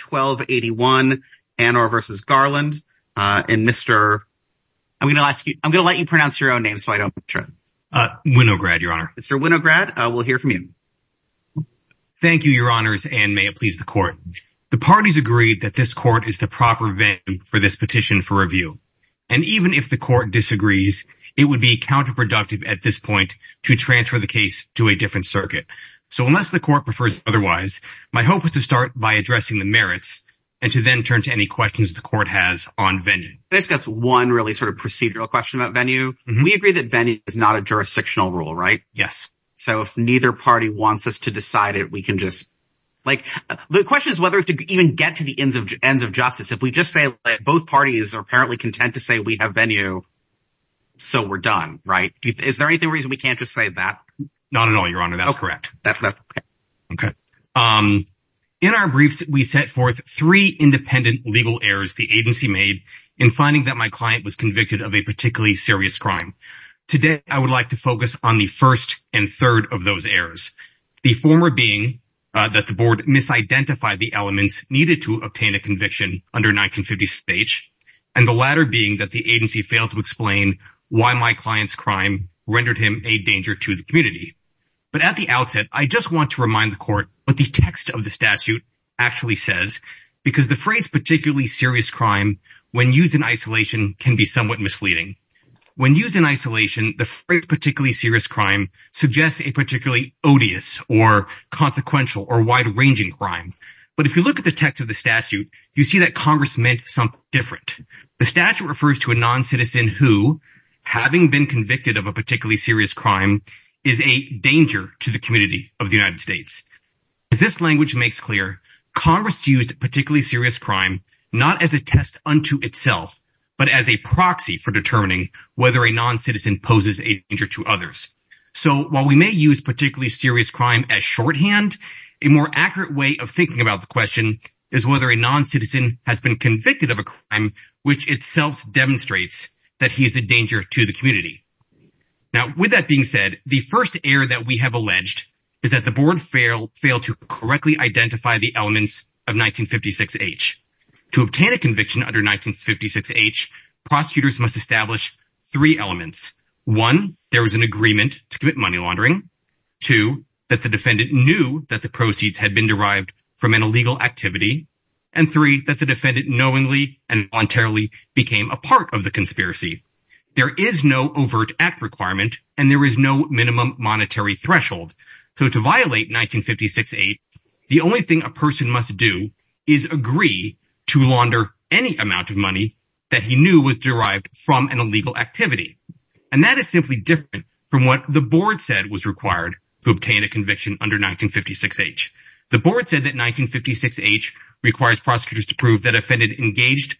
1281 Annor v. Garland and Mr. I'm gonna ask you I'm gonna let you pronounce your own name so I don't Winograd your honor Mr. Winograd I will hear from you thank you your honors and may it please the court the parties agreed that this court is the proper venue for this petition for review and even if the court disagrees it would be counterproductive at this point to transfer the case to a different circuit so unless the court prefers otherwise my hope is to start by addressing the merits and to then turn to any questions the court has on venue this gets one really sort of procedural question about venue we agree that venue is not a jurisdictional rule right yes so if neither party wants us to decide it we can just like the question is whether if to even get to the ends of ends of justice if we just say both parties are apparently content to say we have venue so we're done right is there anything reason we can't just say that not at all your honor that's correct okay in our briefs we set forth three independent legal errors the agency made in finding that my client was convicted of a particularly serious crime today I would like to focus on the first and third of those errors the former being that the board misidentified the elements needed to obtain a conviction under 1950 stage and the latter being that the agency failed to explain why my client's crime rendered him a danger to the community but at the outset I just want to remind the court but the text of the statute actually says because the phrase particularly serious crime when used in isolation can be somewhat misleading when used in isolation the phrase particularly serious crime suggests a particularly odious or consequential or wide-ranging crime but if you look at the text of the statute you see that Congress meant something different the statute refers to a non-citizen who having been convicted of a particularly serious crime is a danger to the community of the United States this language makes clear Congress used particularly serious crime not as a test unto itself but as a proxy for determining whether a non-citizen poses a danger to others so while we may use particularly serious crime as shorthand a more accurate way of thinking about the question is whether a non-citizen has been convicted of a crime which itself demonstrates that he is a danger to the community now with that being said the first error that we have alleged is that the board failed to correctly identify the elements of 1956 H to obtain a conviction under 1956 H prosecutors must establish three elements one there was an agreement to commit money laundering two that the defendant knew that the knowingly and voluntarily became a part of the conspiracy there is no overt act requirement and there is no minimum monetary threshold so to violate 1956 8 the only thing a person must do is agree to launder any amount of money that he knew was derived from an illegal activity and that is simply different from what the board said was required to obtain a conviction under 1956 H the engaged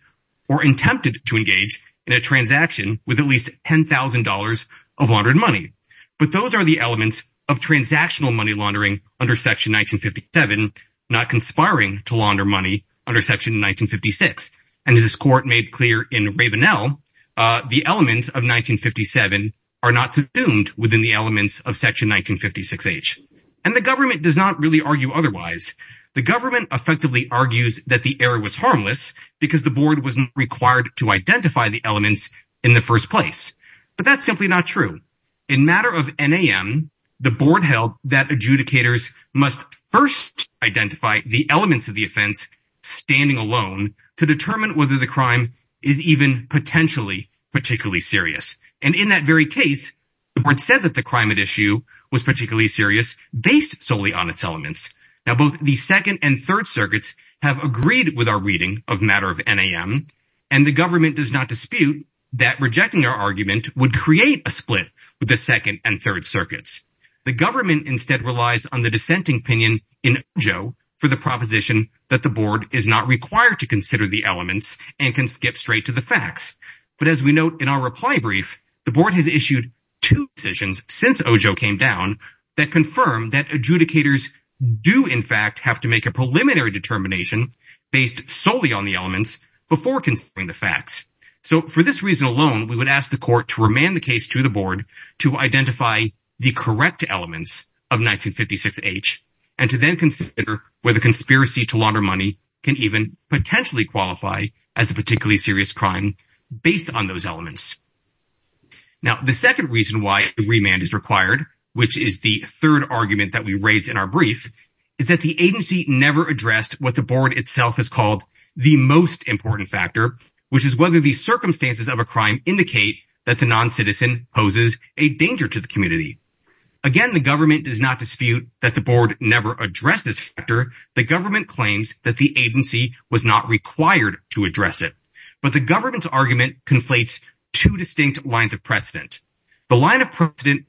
or attempted to engage in a transaction with at least $10,000 of laundered money but those are the elements of transactional money laundering under section 1957 not conspiring to launder money under section 1956 and his court made clear in Ravenel the elements of 1957 are not assumed within the elements of section 1956 H and the government does not really argue otherwise the government effectively argues that the error was because the board was required to identify the elements in the first place but that's simply not true in matter of NAM the board held that adjudicators must first identify the elements of the offense standing alone to determine whether the crime is even potentially particularly serious and in that very case the board said that the crime at issue was particularly serious based solely on its elements now both the second and third circuits have agreed with our reading of matter of NAM and the government does not dispute that rejecting our argument would create a split with the second and third circuits the government instead relies on the dissenting opinion in Joe for the proposition that the board is not required to consider the elements and can skip straight to the facts but as we note in our reply brief the board has issued two decisions since Oh Joe came down that confirmed that adjudicators do in fact have to make a preliminary determination based solely on the elements before considering the facts so for this reason alone we would ask the court to remand the case to the board to identify the correct elements of 1956 H and to then consider whether conspiracy to launder money can even potentially qualify as a particularly serious crime based on those elements now the second reason why remand is required which is the third argument that we raised in our brief is that the agency never addressed what the board itself is called the most important factor which is whether these circumstances of a crime indicate that the non-citizen poses a danger to the community again the government does not dispute that the board never addressed this factor the government claims that the agency was not required to address it but the government's argument conflates two distinct lines of precedent the line of Karbali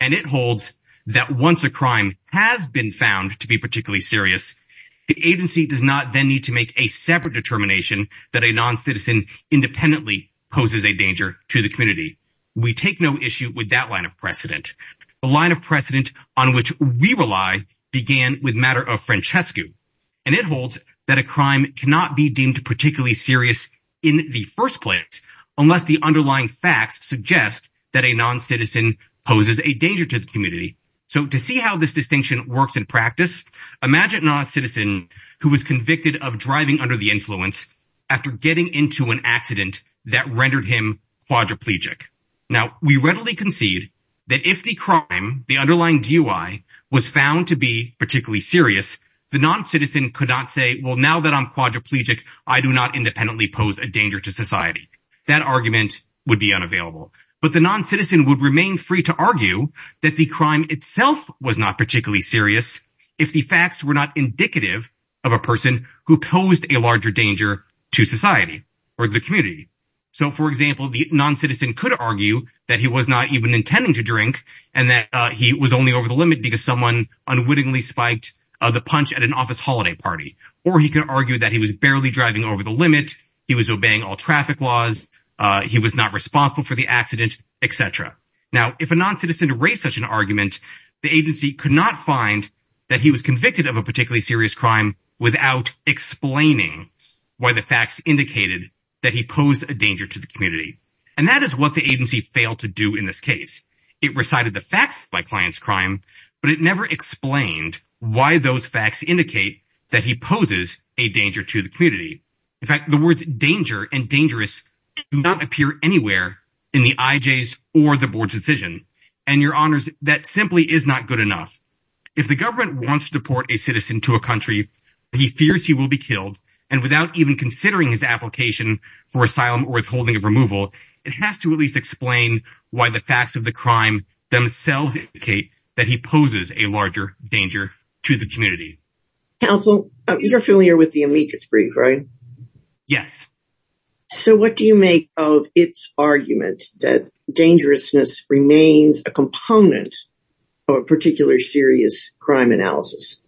and it holds that once a crime has been found to be particularly serious the agency does not then need to make a separate determination that a non-citizen independently poses a danger to the community we take no issue with that line of precedent the line of precedent on which we rely began with matter of Francesco and it holds that a crime cannot be deemed particularly serious in the first place unless the underlying facts suggest that a non-citizen poses a danger to the community so to see how this distinction works in practice imagine a non-citizen who was convicted of driving under the influence after getting into an accident that rendered him quadriplegic now we readily concede that if the crime the underlying DUI was found to be particularly serious the non-citizen could not say well now that I'm quadriplegic I do not independently pose a danger to society that argument would be unavailable but the non-citizen would remain free to argue that the crime itself was not particularly serious if the facts were not indicative of a person who posed a larger danger to society or the community so for example the non-citizen could argue that he was not even intending to drink and that he was only over the limit because someone unwittingly spiked the punch at an office holiday party or he could argue that he was barely driving over the etc now if a non-citizen to raise such an argument the agency could not find that he was convicted of a particularly serious crime without explaining why the facts indicated that he posed a danger to the community and that is what the agency failed to do in this case it recited the facts by clients crime but it never explained why those facts indicate that he poses a danger to the community in fact the words danger and dangerous not appear anywhere in the IJs or the board's decision and your honors that simply is not good enough if the government wants to deport a citizen to a country he fears he will be killed and without even considering his application for asylum or withholding of removal it has to at least explain why the facts of the crime themselves indicate that he poses a larger danger to the community council you're familiar with the amicus brief right yes so what do you make of its argument that dangerousness remains a component of a particular serious crime analysis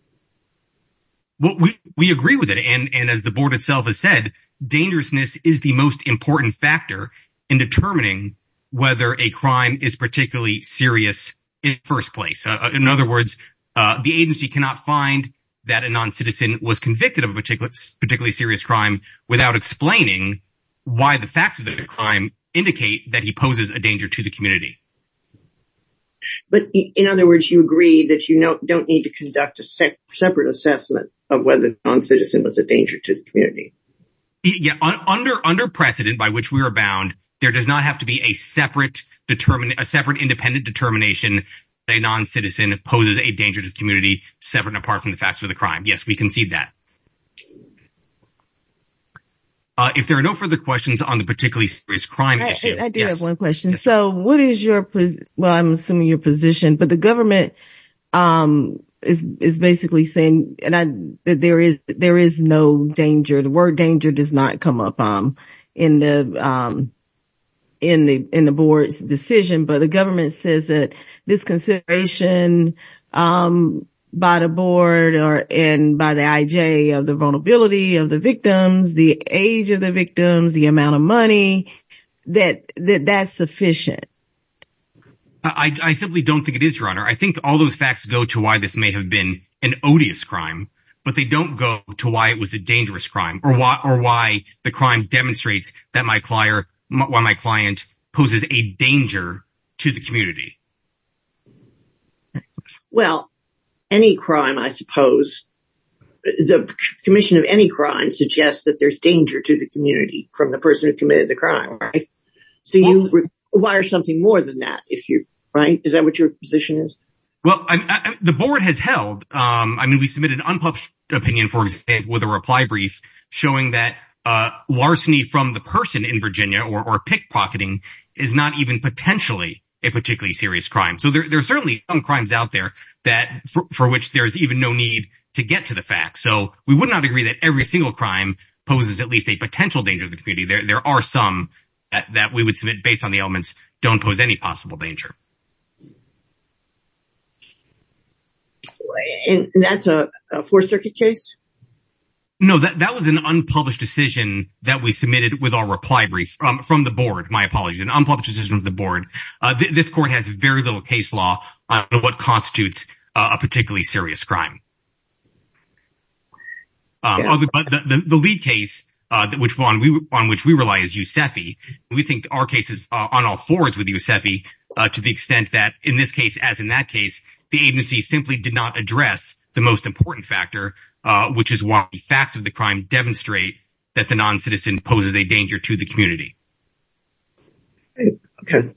what we we agree with it and and as the board itself has said dangerousness is the most important factor in determining whether a crime is particularly serious in first place in other words the agency cannot find that a non-citizen was convicted of a particular particularly serious crime without explaining why the facts of the crime indicate that he poses a danger to the community but in other words you agree that you know don't need to conduct a separate assessment of whether non-citizen was a danger to the community yeah under under precedent by which we are bound there does not have to be a separate determine a separate independent determination a non-citizen opposes a danger to the community separate apart from the facts of the crime yes we concede that if there are no further questions on the particularly serious crime question so what is your well I'm assuming your position but the government is basically saying and I there is there is no danger the word danger does not come up on in the in the board's decision but the government says that this consideration by the board or and by the IJ of the vulnerability of the victims the age of the victims the amount of money that that's sufficient I simply don't think it is runner I think all those facts go to why this may have been an odious crime but they don't go to why it was a dangerous crime or what or why the crime demonstrates that my why my client poses a danger to the community well any crime I suppose the Commission of any crime suggests that there's danger to the community from the person who committed the crime right so you require something more than that if you're right is that what your position is well I'm the board has held I mean we submitted an unpublished opinion for it with a reply brief showing that larceny from the person in Virginia or pickpocketing is not even potentially a particularly serious crime so there's certainly some crimes out there that for which there's even no need to get to the fact so we would not agree that every single crime poses at least a potential danger of the community there there are some that we would submit based on the elements don't pose any possible danger that's a four circuit case no that was an unpublished decision that we submitted with our reply brief from the board my apologies an unpublished decision of the board this court has very little case law on what constitutes a particularly serious crime the lead case that which one we on which we rely is Yousefi we think our cases on all forwards with Yousefi to the extent that in this case as in that case the agency simply did not address the most important factor which is why the facts of the crime demonstrate that the non-citizen poses a danger to the community okay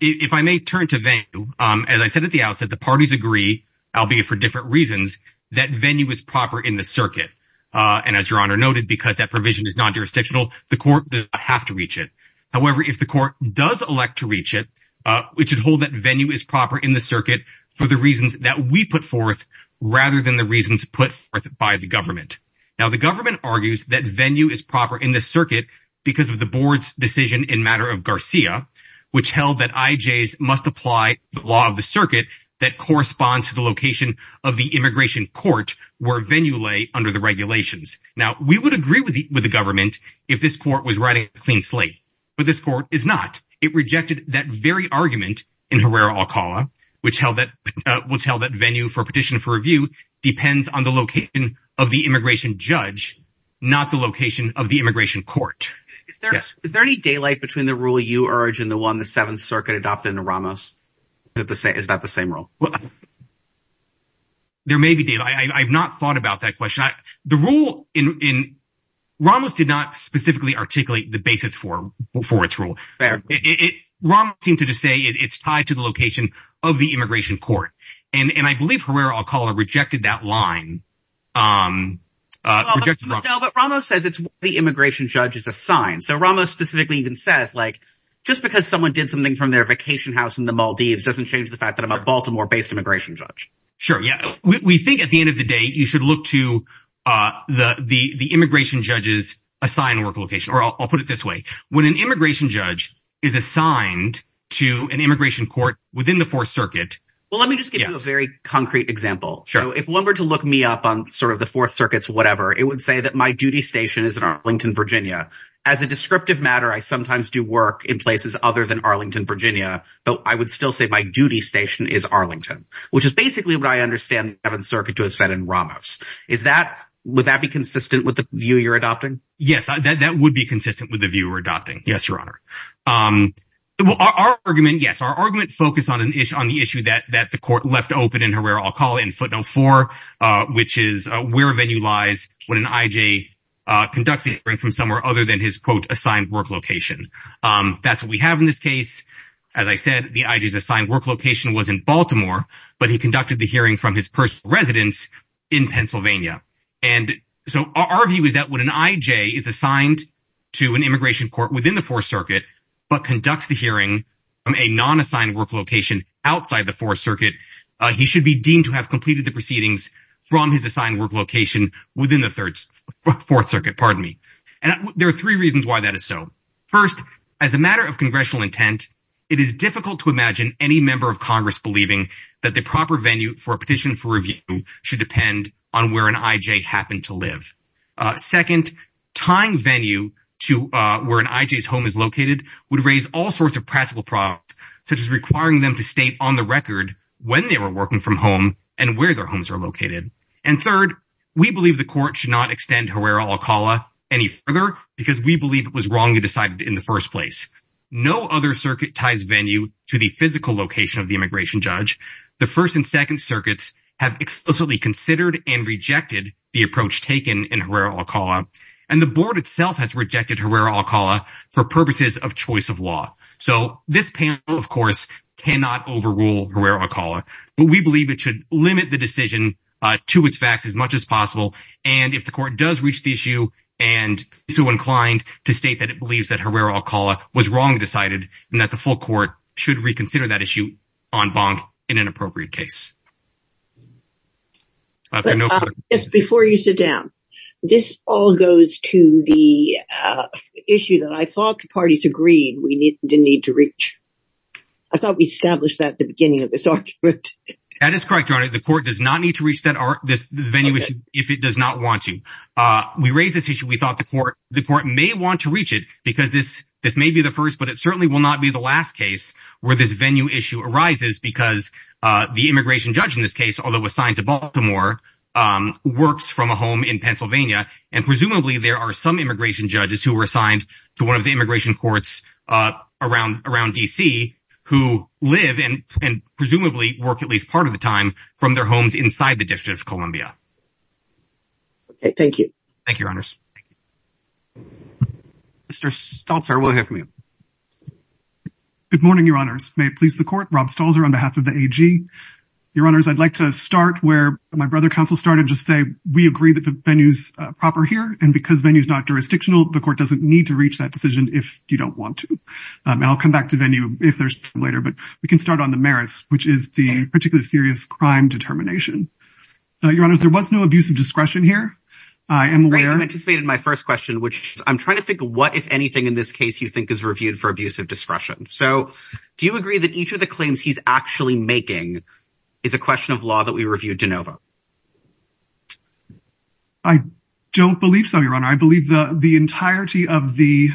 if I may turn to them as I said at the outset the parties agree albeit for different reasons that venue is proper in the circuit and as your honor noted because that provision is non-jurisdictional the court have to reach it however if the court does elect to reach it we should hold that venue is proper in the circuit for the reasons that we put forth rather than the reasons put by the government now the government argues that venue is proper in the circuit because of the board's decision in matter of Garcia which held that IJ's must apply the law of the circuit that corresponds to the location of the immigration court where venue lay under the regulations now we would agree with the government if this court was writing a clean slate but this court is not it rejected that very argument in Herrera Alcala which held that will tell that venue for petition for review depends on the location of the immigration judge not the location of the immigration court yes is there any daylight between the rule you urge and the one the Seventh Circuit adopted in the Ramos at the same is that the same role well there may be did I I've not thought about that question I the rule in Ramos did not specifically articulate the basis for before its rule it seemed to just say it's tied to the location of the immigration court and and I believe Herrera Alcala rejected that line Ramos says it's the immigration judge is assigned so Ramos specifically even says like just because someone did something from their vacation house in the Maldives doesn't change the fact that I'm a Baltimore based immigration judge sure yeah we think at the end of the day you should look to the the the immigration judges assign work location or I'll put it this way when an immigration judge is assigned to an immigration court within the Fourth Circuit well let me just give you a very concrete example so if one were to look me up on sort of the Fourth Circuit's whatever it would say that my duty station is in Arlington Virginia as a descriptive matter I sometimes do work in places other than Arlington Virginia but I would still say my duty station is Arlington which is basically what I understand the Seventh Circuit to have said in Ramos is that would that be consistent with the view yes your honor well our argument yes our argument focus on an issue on the issue that that the court left open in Herrera Alcala in footnote 4 which is where venue lies when an IJ conducts a hearing from somewhere other than his quote assigned work location that's what we have in this case as I said the ideas assigned work location was in Baltimore but he conducted the hearing from his personal residence in Pennsylvania and so our view is that when an IJ is the Fourth Circuit but conducts the hearing from a non-assigned work location outside the Fourth Circuit he should be deemed to have completed the proceedings from his assigned work location within the third Fourth Circuit pardon me and there are three reasons why that is so first as a matter of congressional intent it is difficult to imagine any member of Congress believing that the proper venue for a petition for review should depend on where an IJ happened to live second time venue to where an IJs home is located would raise all sorts of practical products such as requiring them to state on the record when they were working from home and where their homes are located and third we believe the court should not extend Herrera Alcala any further because we believe it was wrongly decided in the first place no other circuit ties venue to the physical location of the immigration judge the first and second circuits have explicitly considered and rejected the approach taken in Herrera Alcala and the board itself has rejected Herrera Alcala for purposes of choice of law so this panel of course cannot overrule Herrera Alcala but we believe it should limit the decision to its facts as much as possible and if the court does reach the issue and so inclined to state that it believes that Herrera Alcala was wrongly decided and that the full court should reconsider that issue on bond in an appropriate case just before you sit down this all goes to the issue that I thought the parties agreed we need to need to reach I thought we established that at the beginning of this argument that is correct your honor the court does not need to reach that or this venue if it does not want to we raise this issue we thought the court the court may want to reach it because this this may be the first but it certainly will not be the last case where this venue issue arises because the immigration judge in this case although assigned to Baltimore works from a home in Pennsylvania and presumably there are some immigration judges who were assigned to one of the immigration courts around around DC who live in and presumably work at least part of the time from their homes inside the District of Columbia thank you thank you your honors may it please the court Rob stalls are on behalf of the AG your honors I'd like to start where my brother counsel started just say we agree that the venues proper here and because venues not jurisdictional the court doesn't need to reach that decision if you don't want to I'll come back to venue if there's later but we can start on the merits which is the particularly serious crime determination your honors there was no abuse of discretion here I am where I'm anticipated my first question which I'm trying to think of what if anything in this case you think is reviewed for abuse of discretion so do you agree that each of the claims he's actually making is a question of law that we reviewed de novo I don't believe so your honor I believe the the entirety of the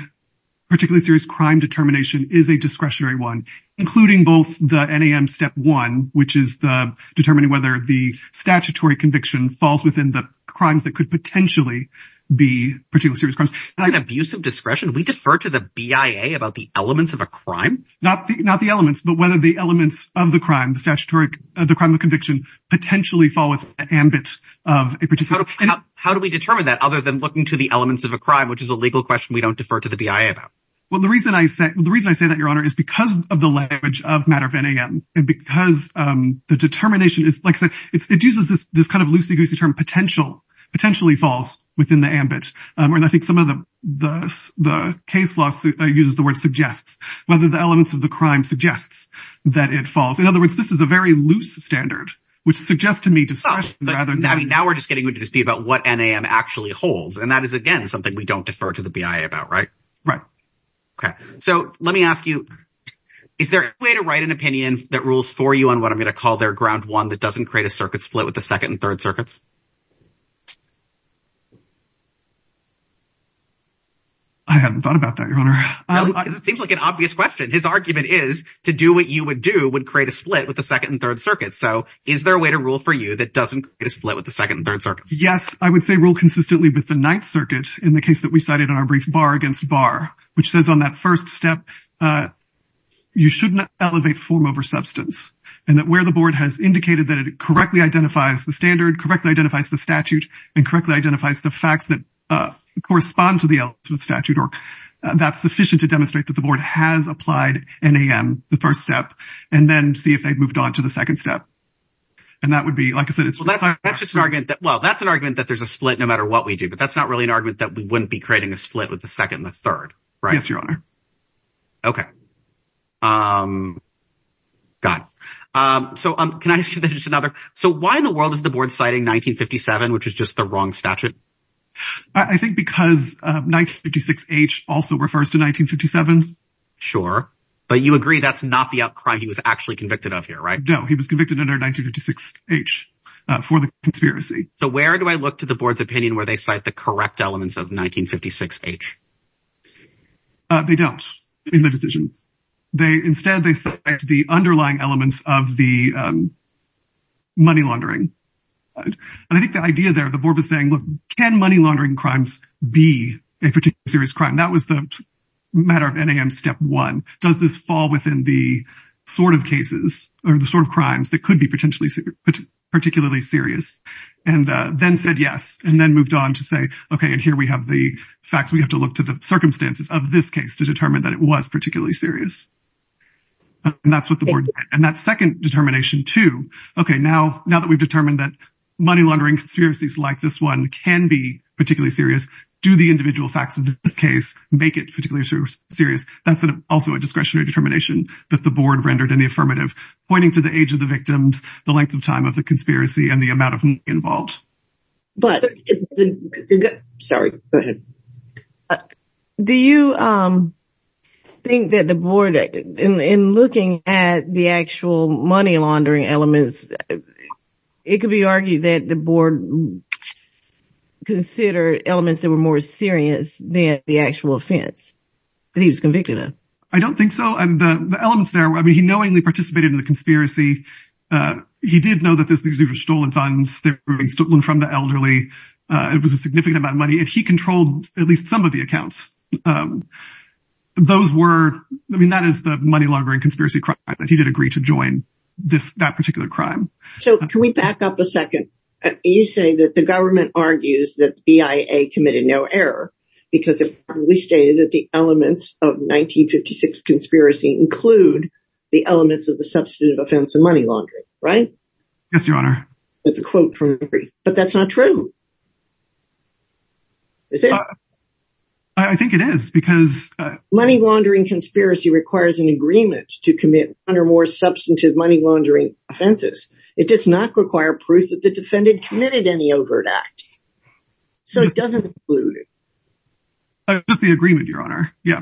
particularly serious crime determination is a discretionary one including both the NAM step one which is the determining whether the statutory conviction falls within the crimes that could potentially be particularly serious crimes an abusive discretion we defer to the BIA about the elements of a crime not not the elements but whether the elements of the crime the statutory the crime of conviction potentially fall with ambit of a particular how do we determine that other than looking to the elements of a crime which is a legal question we don't defer to the BIA about well the reason I said the reason I say that your honor is because of the language of matter of NAM and because the determination is like so it's it uses this this kind of loosey-goosey term potential potentially falls within the ambit and I think some of the the the case law uses the word suggests whether the elements of the crime suggests that it falls in other words this is a very loose standard which suggests to me just rather now we're just getting would just be about what NAM actually holds and that is again something we don't defer to the BIA about right right okay so let me ask you is there a way to write an opinion that rules for you on what I'm gonna call their ground one that doesn't create a circuit split with the second and third circuits I haven't thought about that your honor it seems like an obvious question his argument is to do what you would do would create a split with the second and third circuits so is there a way to rule for you that doesn't get a split with the second third circuits yes I would say rule consistently with the ninth circuit in the case that we cited in our brief bar against bar which says on that first step you shouldn't elevate form over substance and that where the correctly identifies the statute and correctly identifies the facts that correspond to the statute or that's sufficient to demonstrate that the board has applied NAM the first step and then see if they've moved on to the second step and that would be like I said it's well that's just an argument that well that's an argument that there's a split no matter what we do but that's not really an argument that we wouldn't be creating a split with the second the third right yes your honor okay got so um can I just another so why in the world is the board citing 1957 which is just the wrong statute I think because 1956 H also refers to 1957 sure but you agree that's not the up crime he was actually convicted of here right no he was convicted under 1956 H for the conspiracy so where do I look to the board's opinion where they cite the correct elements of 1956 H they don't in the decision they instead they said the underlying elements of the money laundering and I think the idea there the board was saying look can money laundering crimes be a particular serious crime that was the matter of NAM step one does this fall within the sort of cases or the sort of crimes that could be potentially particularly serious and then said yes and then moved on to say okay and here we have the facts we have to look to the circumstances of this case to determine that it was particularly serious and that's what the board and that second determination to okay now now that we've determined that money laundering conspiracies like this one can be particularly serious do the individual facts of this case make it particularly serious that's an also a discretionary determination that the board rendered in the affirmative pointing to the age of the victims the length of time of the conspiracy and the think that the board in looking at the actual money laundering elements it could be argued that the board considered elements that were more serious than the actual offense but he was convicted of I don't think so and the elements there I mean he knowingly participated in the conspiracy he did know that this these are stolen funds stolen from the elderly it was a those were I mean that is the money laundering conspiracy crime that he did agree to join this that particular crime so can we back up a second you say that the government argues that the BIA committed no error because if we stated that the elements of 1956 conspiracy include the elements of the substantive offense of money laundering right yes your honor that's a quote from three but that's not true I think it is because money laundering conspiracy requires an agreement to commit under more substantive money laundering offenses it does not require proof that the defendant committed any overt act so it doesn't include just the agreement your honor yeah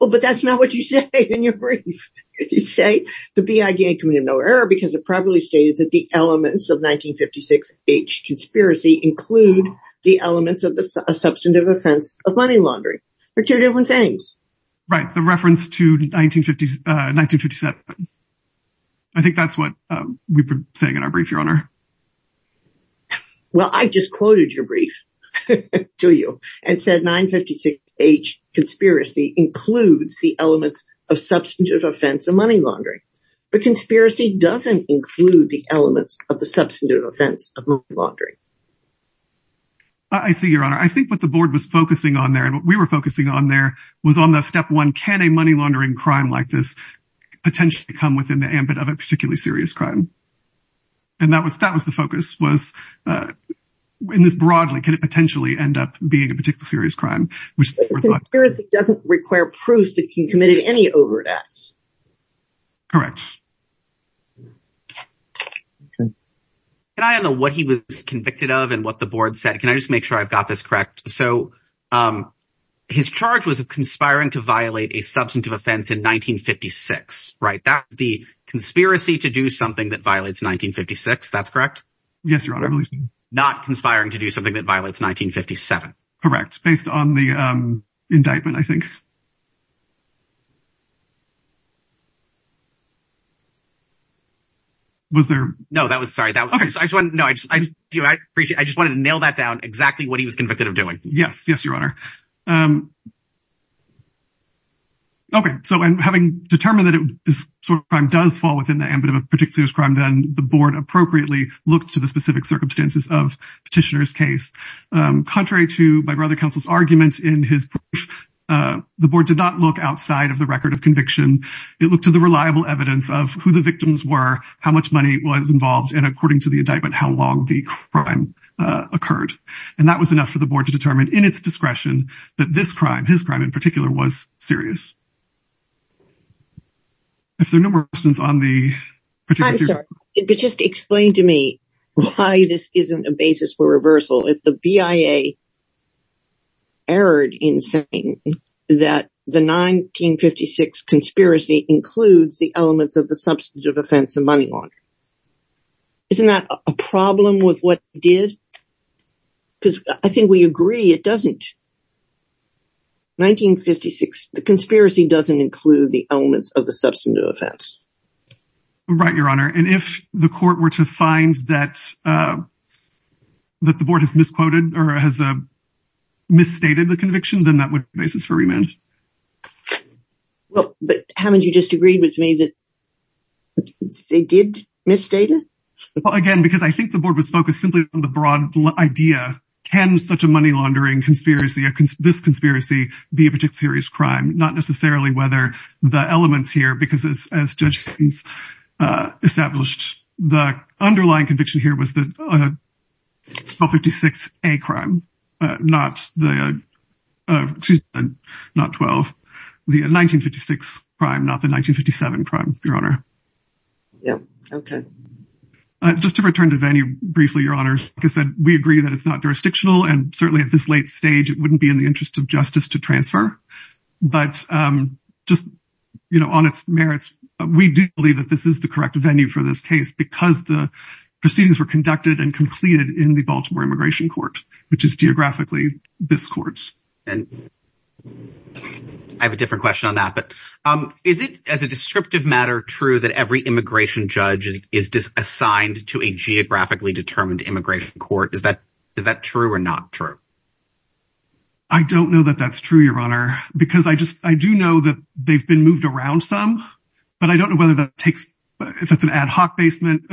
well but that's not what you say in your brief you say the BIA committed no error because it probably stated that the elements of 1956 age conspiracy include the elements of the substantive offense of money laundering or two different things right the reference to 1950s 1957 I think that's what we've been saying in our brief your honor well I just quoted your brief to you and said 1956 age conspiracy includes the elements of substantive offense of money laundering but conspiracy doesn't include the elements of the substantive offense of money laundering I see your honor I think what the board was focusing on there and what we were focusing on there was on the step one can a money laundering crime like this potentially come within the ambit of a particularly serious crime and that was that was the focus was in this broadly can it potentially end up being a particular serious crime which doesn't require proof that can committed any overacts correct and I don't know what he was convicted of and what the board said can I just make sure I've got this correct so his charge was a conspiring to violate a substantive offense in 1956 right that's the conspiracy to do something that violates 1956 that's correct yes your honor not conspiring to was there no that was sorry that okay so I just want to know I just appreciate I just wanted to nail that down exactly what he was convicted of doing yes yes your honor okay so I'm having determined that it this sort of crime does fall within the ambit of a particular crime then the board appropriately looked to the specific circumstances of petitioners case contrary to my brother counsel's arguments in his the board did not look outside of the record of conviction it looked to the reliable evidence of who the victims were how much money was involved and according to the indictment how long the crime occurred and that was enough for the board to determine in its discretion that this crime his crime in particular was serious if there are no more questions on the but just explain to me why this isn't a basis for reversal if the BIA erred in saying that the 1956 conspiracy includes the elements of the substantive offense and money on it isn't that a problem with what did because I think we agree it doesn't 1956 the conspiracy doesn't include the elements of the substantive offense right your honor and if the court were to find that that the board has misquoted or has a misstated the conviction then that would basis for remand well but haven't you just agreed with me that they did misstated again because I think the board was focused simply on the broad idea can such a money-laundering conspiracy this conspiracy be a particular serious crime not necessarily whether the elements here because as judges established the underlying conviction here was that 56 a crime not the not 12 the 1956 crime not the 1957 crime your honor yeah okay just to return to venue briefly your honors because that we agree that it's not jurisdictional and certainly at this late stage it wouldn't be in the interest of justice to transfer but just you know on its merits we do believe that this is the correct venue for this case because the proceedings were conducted and completed in the Baltimore immigration court which is geographically this courts and I have a different question on that but is it as a descriptive matter true that every immigration judge is just assigned to a geographically determined immigration court is that is that true or not true I don't know that that's true your honor because I just I do know that they've been moved around some but I don't know whether that takes if it's an ad hoc basement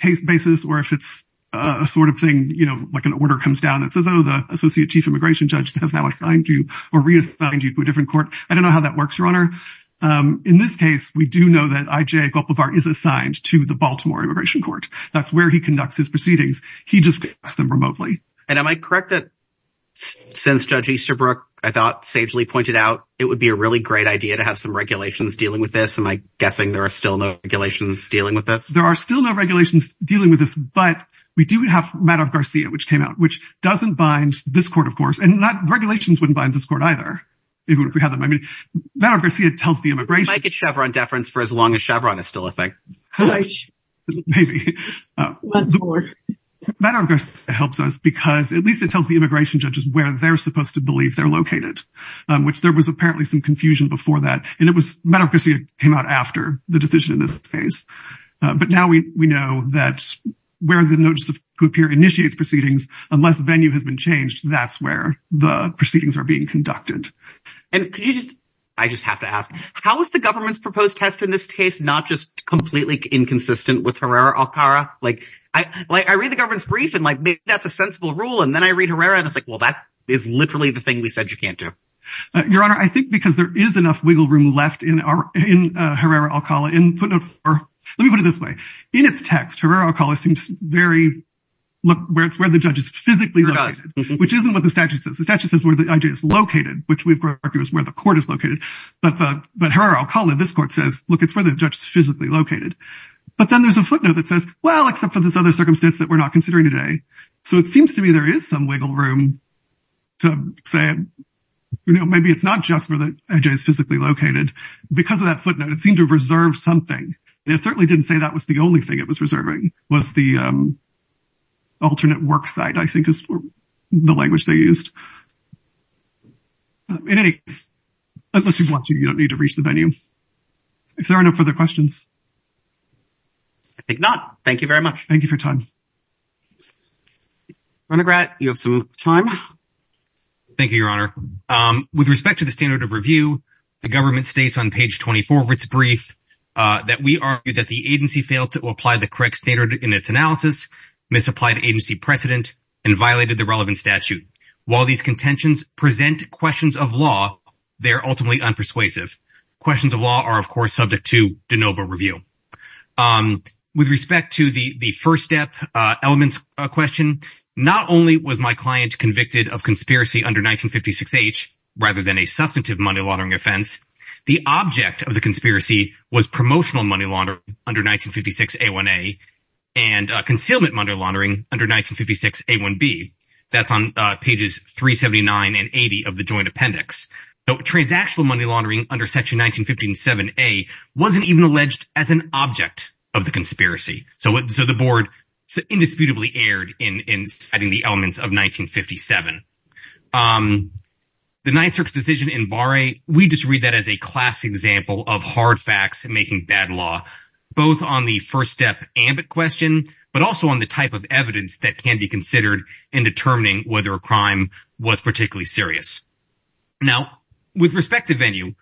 case basis or if it's a sort of thing you know like an order comes down that says oh the associate chief immigration judge has now assigned you or reassigned you to a different court I don't know how that works your honor in this case we do know that I J Gulf of art is assigned to the Baltimore immigration court that's where he conducts his proceedings he just asked them remotely and am I correct that since judge Easterbrook I thought sagely pointed out it would be a really great idea to have some regulations dealing with this am I guessing there are still no regulations dealing with this there are still no regulations dealing with this but we do have matter of Garcia which came out which doesn't bind this court of course and not regulations wouldn't bind this court either if we have them I mean matter of Garcia tells the immigration Chevron deference for as long as Chevron is still I think helps us because at least it tells the immigration judges where they're supposed to believe they're located which there was apparently some confusion before that and it was medical see it came out after the decision in this case but now we we know that where the notice of who appear initiates proceedings unless venue has been changed that's where the proceedings are being conducted and I just have to ask how is the government's proposed test in this case not just completely inconsistent with Herrera Alcala like I like I read the government's brief and like maybe that's a sensible rule and then I read Herrera and it's like well that is literally the thing we said you can't do your honor I think because there is enough wiggle room left in our in Herrera Alcala in footnote for let me put it this way in its text Herrera Alcala seems very look where it's where the judge is physically which isn't what the statute says the statute says where the idea is located which we've got argues where the court is located but the but Herrera Alcala this court says look it's where the judge is physically located but then there's a footnote that says well except for this other circumstance that we're not considering today so it seems to me there is some wiggle room to say you know maybe it's not just for the edges physically located because of that footnote it seemed to reserve something it certainly didn't say that was the only thing it was reserving was the alternate work site I think is the language they used in any case unless you want to you don't need to reach the venue if there are no further questions I think not thank you very much thank you for time undergrad you have some time thank you your honor with respect to the standard of review the government states on page 24 of its brief that we argued that the agency failed to apply the correct standard in its analysis misapplied agency precedent and violated the relevant statute while these contentions present questions of law they're ultimately unpersuasive questions of law are of course subject to de novo review with respect to the the first step elements a question not only was my client convicted of conspiracy under 1956 age rather than a substantive money-laundering offense the object of the conspiracy was promotional money laundering under 1956 a1a and concealment money laundering under 1956 a1b that's on pages 379 and 80 of the joint appendix though transactional money laundering under section 1957 a wasn't even alleged as an object of the conspiracy so what so the board indisputably aired in in citing the elements of 1957 the night search decision in bar a we just read that as a classic example of hard facts and making bad law both on the first step ambit question but also on the type of evidence that can be considered in determining whether a crime was particularly serious now with respect to venue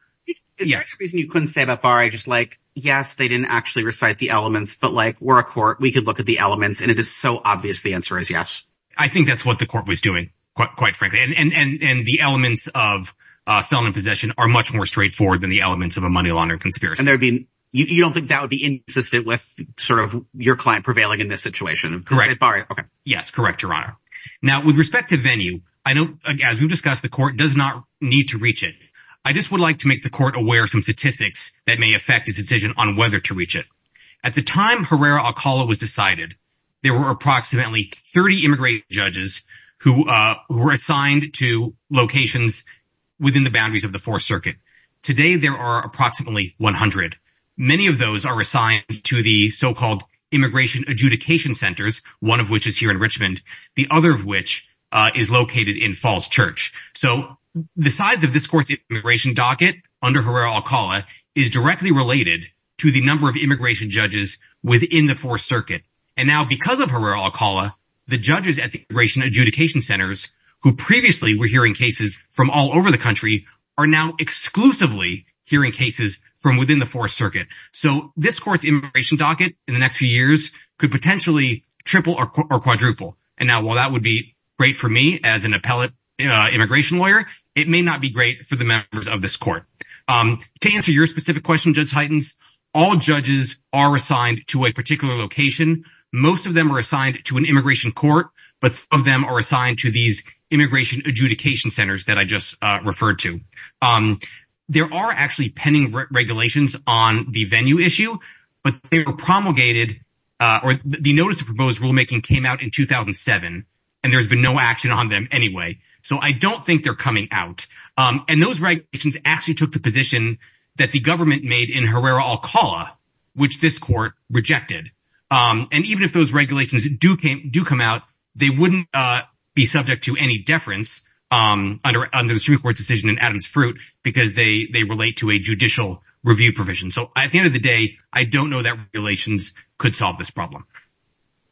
yes you couldn't say that far I just like yes they didn't actually recite the elements but like we're a court we could look at the elements and it is so obvious the answer is yes I think that's what the court was doing quite frankly and and and the elements of felon in possession are much more straightforward than the elements of a you don't think that would be insistent with sort of your client prevailing in this situation of correct bar okay yes correct your honor now with respect to venue I know as we've discussed the court does not need to reach it I just would like to make the court aware of some statistics that may affect its decision on whether to reach it at the time Herrera-Alcala was decided there were approximately 30 immigrant judges who were assigned to locations within the boundaries of the Fourth Circuit today there are approximately 100 many of those are assigned to the so-called immigration adjudication centers one of which is here in Richmond the other of which is located in Falls Church so the size of this court's immigration docket under Herrera-Alcala is directly related to the number of immigration judges within the Fourth Circuit and now because of Herrera-Alcala the judges at the immigration adjudication centers who are now exclusively hearing cases from within the Fourth Circuit so this court's immigration docket in the next few years could potentially triple or quadruple and now while that would be great for me as an appellate immigration lawyer it may not be great for the members of this court to answer your specific question Judge Heitens all judges are assigned to a particular location most of them are assigned to an immigration court but some of them are assigned to these there are actually pending regulations on the venue issue but they were promulgated or the notice of proposed rulemaking came out in 2007 and there's been no action on them anyway so I don't think they're coming out and those regulations actually took the position that the government made in Herrera-Alcala which this court rejected and even if those regulations do come out they wouldn't be subject to any deference under the Supreme Court's decision in because they relate to a judicial review provision so at the end of the day I don't know that regulations could solve this problem